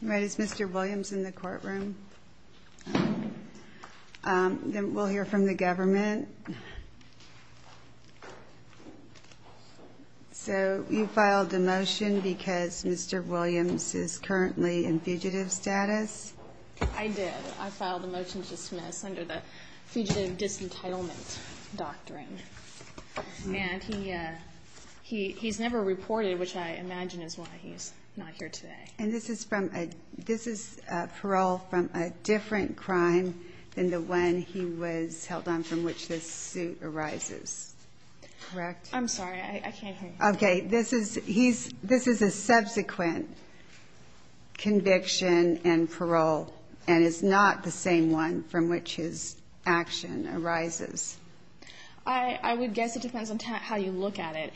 Right, is Mr. Williams in the courtroom? Then we'll hear from the government. So you filed a motion because Mr. Williams is currently in fugitive status? I did. I filed a motion to dismiss under the Fugitive Disentitlement Doctrine. And he's never reported, which I imagine is why he's not here today. And this is parole from a different crime than the one he was held on from which this suit arises, correct? I'm sorry, I can't hear you. Okay, this is a subsequent conviction and parole, and it's not the same one from which his action arises. I would guess it depends on how you look at it.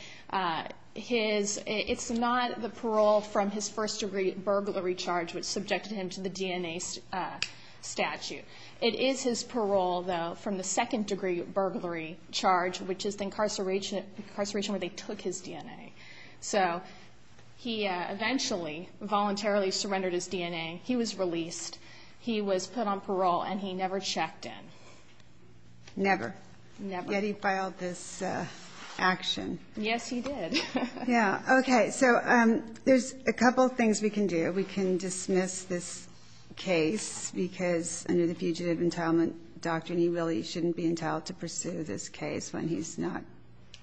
It's not the parole from his first-degree burglary charge which subjected him to the DNA statute. It is his parole, though, from the second-degree burglary charge, which is the incarceration where they took his DNA. So he eventually voluntarily surrendered his DNA. He was released. He was put on parole, and he never checked in. Never? Never. Yet he filed this action. Yes, he did. Yeah. Okay. So there's a couple things we can do. We can dismiss this case because under the Fugitive Entitlement Doctrine, he really shouldn't be entitled to pursue this case when he's not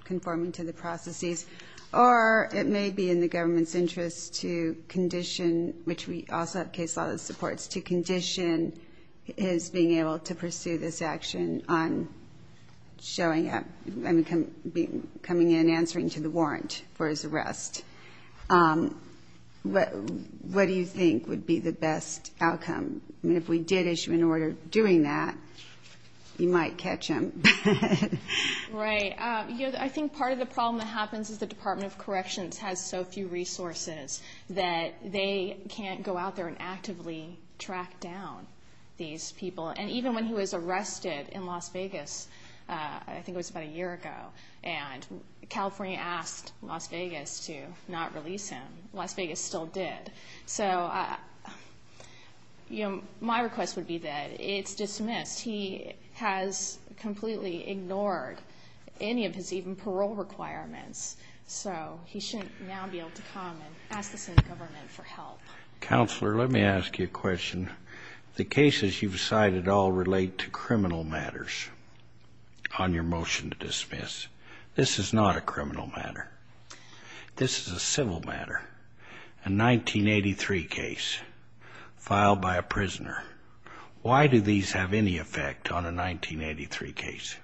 conforming to the processes. Or it may be in the government's interest to condition, which we also have case law that supports, to condition his being able to pursue this action on coming in and answering to the warrant for his arrest. What do you think would be the best outcome? I mean, if we did issue an order doing that, you might catch him. Right. I think part of the problem that happens is the Department of Corrections has so few resources that they can't go out there and actively track down these people. And even when he was arrested in Las Vegas, I think it was about a year ago, and California asked Las Vegas to not release him, Las Vegas still did. So my request would be that it's dismissed. He has completely ignored any of his even parole requirements. So he shouldn't now be able to come and ask the state government for help. Counselor, let me ask you a question. The cases you've cited all relate to criminal matters on your motion to dismiss. This is not a criminal matter. This is a civil matter, a 1983 case filed by a prisoner. Why do these have any effect on a 1983 case?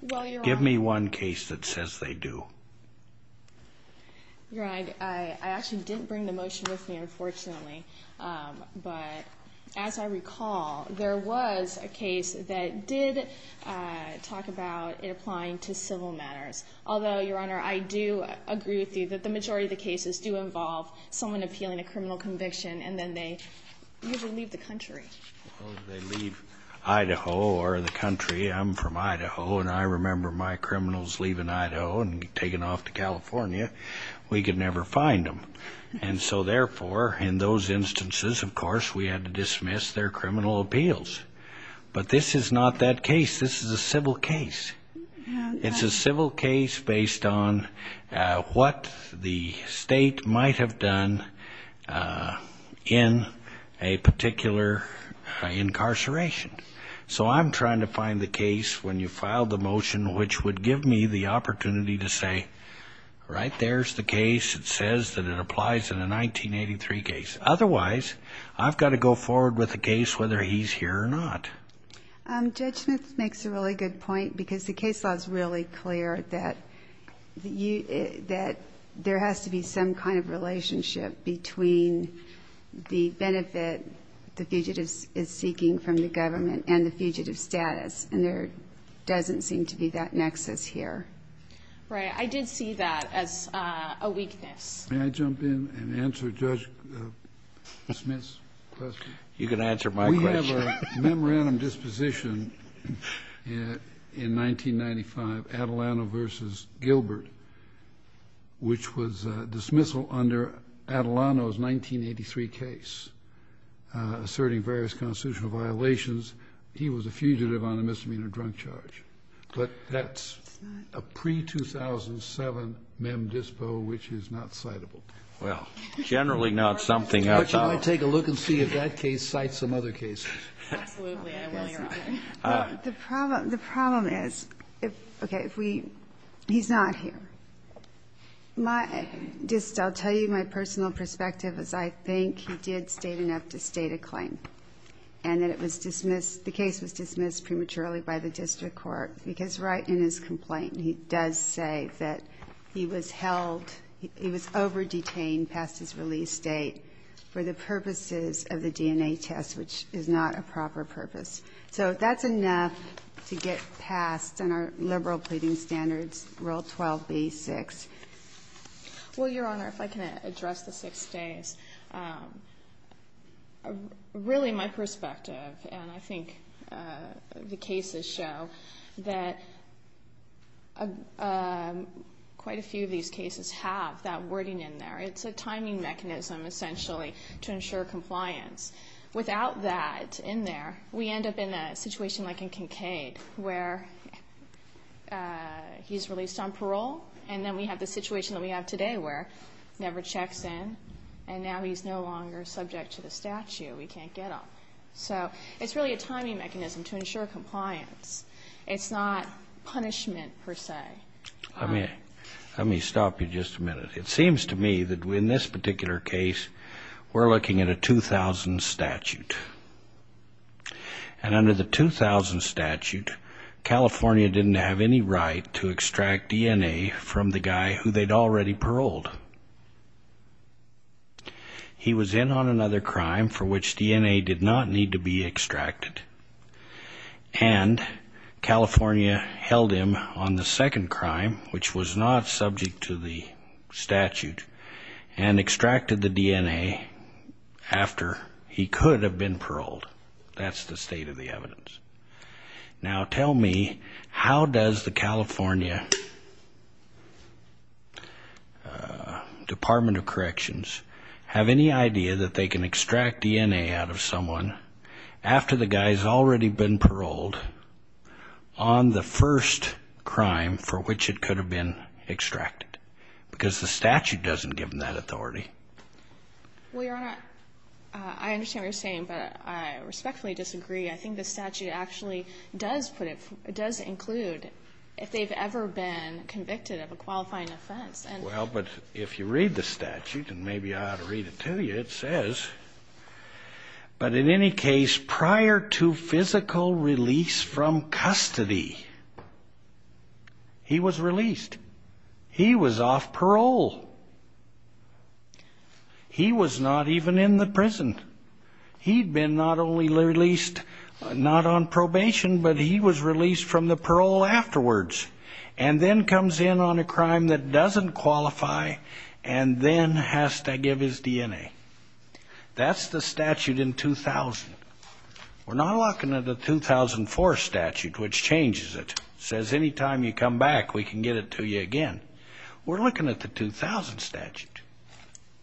Well, Your Honor. Give me one case that says they do. Your Honor, I actually didn't bring the motion with me, unfortunately. But as I recall, there was a case that did talk about it applying to civil matters. Although, Your Honor, I do agree with you that the majority of the cases do involve someone appealing a criminal conviction and then they usually leave the country. They leave Idaho or the country. I'm from Idaho, and I remember my criminals leaving Idaho and taking off to California. We could never find them. And so, therefore, in those instances, of course, we had to dismiss their criminal appeals. But this is not that case. This is a civil case. It's a civil case based on what the state might have done in a particular incarceration. So I'm trying to find the case when you filed the motion which would give me the opportunity to say, right, there's the case. It says that it applies in a 1983 case. Otherwise, I've got to go forward with the case whether he's here or not. Judge Smith makes a really good point because the case law is really clear that there has to be some kind of relationship between the benefit the fugitive is seeking from the government and the fugitive status, and there doesn't seem to be that nexus here. Right. I did see that as a weakness. May I jump in and answer Judge Smith's question? You can answer my question. We have a memorandum disposition in 1995, Atalano v. Gilbert, which was dismissal under Atalano's 1983 case asserting various constitutional violations. He was a fugitive on a misdemeanor drunk charge. But that's a pre-2007 mem dispo which is not citable. Well, generally not something outside. May I take a look and see if that case cites some other cases? Absolutely. I will, Your Honor. The problem is, okay, if we he's not here. Just I'll tell you my personal perspective is I think he did state enough to state a claim and that it was dismissed, the case was dismissed prematurely by the district court because right in his complaint he does say that he was held, he was over-detained past his release date for the purposes of the DNA test, which is not a proper purpose. So that's enough to get past in our liberal pleading standards, Rule 12b-6. Well, Your Honor, if I can address the six days. Really my perspective, and I think the cases show, that quite a few of these cases have that wording in there. It's a timing mechanism essentially to ensure compliance. Without that in there, we end up in a situation like in Kincaid where he's released on parole, and then we have the situation that we have today where he never checks in, and now he's no longer subject to the statute. We can't get him. So it's really a timing mechanism to ensure compliance. It's not punishment per se. Let me stop you just a minute. It seems to me that in this particular case we're looking at a 2000 statute, and under the 2000 statute California didn't have any right to extract DNA from the guy who they'd already paroled. He was in on another crime for which DNA did not need to be extracted, and California held him on the second crime, which was not subject to the statute, and extracted the DNA after he could have been paroled. That's the state of the evidence. Now tell me, how does the California Department of Corrections have any idea that they can extract DNA out of someone after the guy's already been paroled on the first crime for which it could have been extracted? Because the statute doesn't give them that authority. Well, Your Honor, I understand what you're saying, but I respectfully disagree. I think the statute actually does include if they've ever been convicted of a qualifying offense. Well, but if you read the statute, and maybe I ought to read it to you, it says, but in any case, prior to physical release from custody, he was released. He was off parole. He was not even in the prison. He'd been not only released not on probation, but he was released from the parole afterwards, and then comes in on a crime that doesn't qualify, and then has to give his DNA. That's the statute in 2000. We're not looking at the 2004 statute, which changes it. It says any time you come back, we can get it to you again. We're looking at the 2000 statute.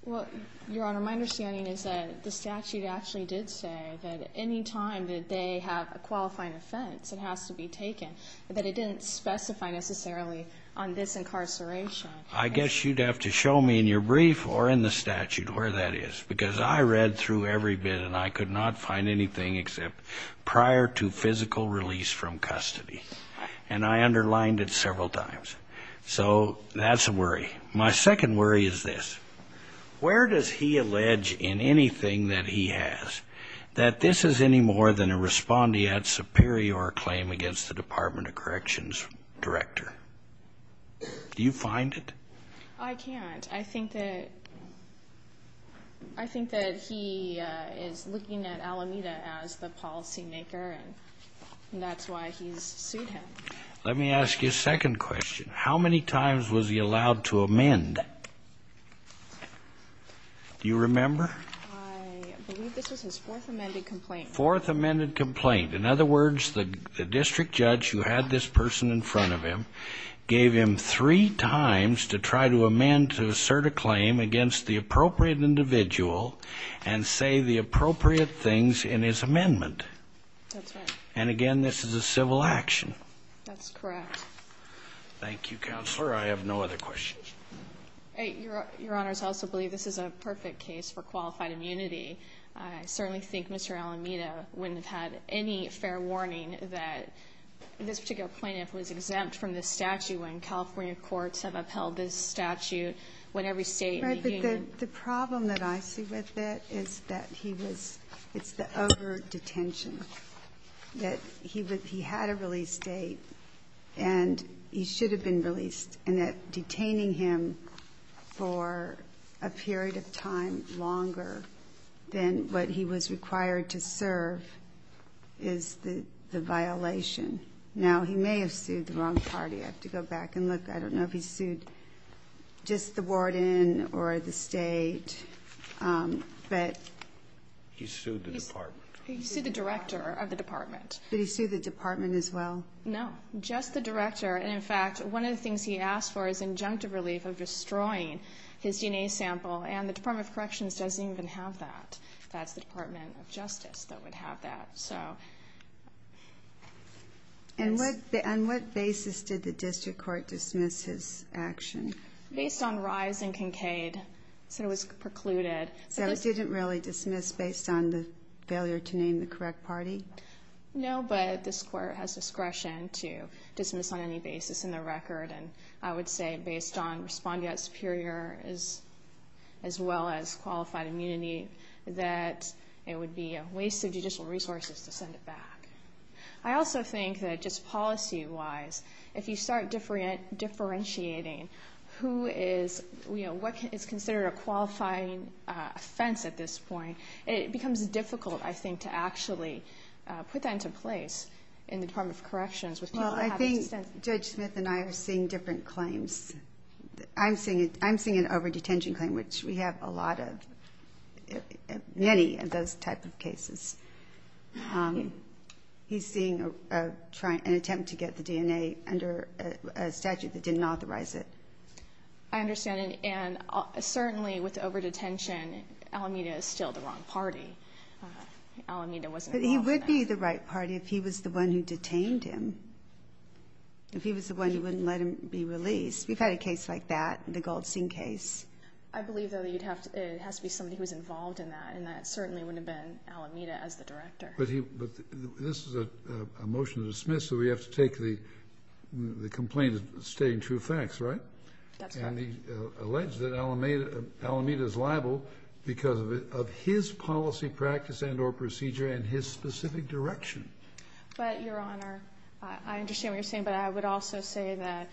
Well, Your Honor, my understanding is that the statute actually did say that any time that they have a qualifying offense, it has to be taken, but that it didn't specify necessarily on this incarceration. I guess you'd have to show me in your brief or in the statute where that is, because I read through every bit, and I could not find anything except prior to physical release from custody, and I underlined it several times. So that's a worry. My second worry is this. Where does he allege in anything that he has that this is any more than a respondeat superior claim against the Department of Corrections director? Do you find it? I can't. I think that he is looking at Alameda as the policymaker, and that's why he's sued him. Let me ask you a second question. How many times was he allowed to amend? Do you remember? I believe this was his fourth amended complaint. Fourth amended complaint. In other words, the district judge who had this person in front of him gave him three times to try to amend to assert a claim against the appropriate individual and say the appropriate things in his amendment. That's right. And, again, this is a civil action. That's correct. Thank you, Counselor. I have no other questions. Your Honor, I also believe this is a perfect case for qualified immunity. I certainly think Mr. Alameda wouldn't have had any fair warning that this particular plaintiff was exempt from this statute when California courts have upheld this statute when every State in the Union. Right. But the problem that I see with it is that he was the over-detention. That he had a release date, and he should have been released. And that detaining him for a period of time longer than what he was required to serve is the violation. Now, he may have sued the wrong party. I have to go back and look. I don't know if he sued just the warden or the State, but he sued the department. He sued the director of the department. Did he sue the department as well? No, just the director. And, in fact, one of the things he asked for is injunctive relief of destroying his DNA sample, and the Department of Corrections doesn't even have that. That's the Department of Justice that would have that. And on what basis did the district court dismiss his action? Based on rise in Kincaid. It said it was precluded. So it didn't really dismiss based on the failure to name the correct party? No, but this court has discretion to dismiss on any basis in the record. And I would say, based on respondeat superior as well as qualified immunity, that it would be a waste of judicial resources to send it back. I also think that just policy-wise, if you start differentiating who is, you know, what is considered a qualifying offense at this point, it becomes difficult, I think, to actually put that into place in the Department of Corrections. Well, I think Judge Smith and I are seeing different claims. I'm seeing an over-detention claim, which we have a lot of, many of those type of cases. He's seeing an attempt to get the DNA under a statute that didn't authorize it. I understand. And certainly with over-detention, Alameda is still the wrong party. Alameda wasn't involved in that. But he would be the right party if he was the one who detained him, if he was the one who wouldn't let him be released. We've had a case like that, the Goldstein case. I believe, though, that it has to be somebody who was involved in that, and that certainly wouldn't have been Alameda as the director. But this is a motion to dismiss, so we have to take the complaint as stating true facts, right? That's correct. And he alleged that Alameda is liable because of his policy practice and or procedure and his specific direction. But, Your Honor, I understand what you're saying, but I would also say that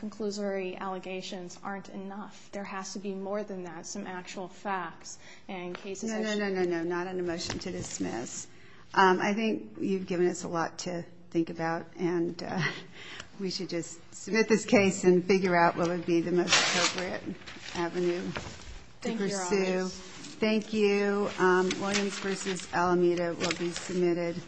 conclusory allegations aren't enough. There has to be more than that, some actual facts and cases. No, no, no, no, no, not on a motion to dismiss. I think you've given us a lot to think about, and we should just submit this case and figure out what would be the most appropriate avenue to pursue. Thank you, Your Honor. Thank you. Williams v. Alameda will be submitted.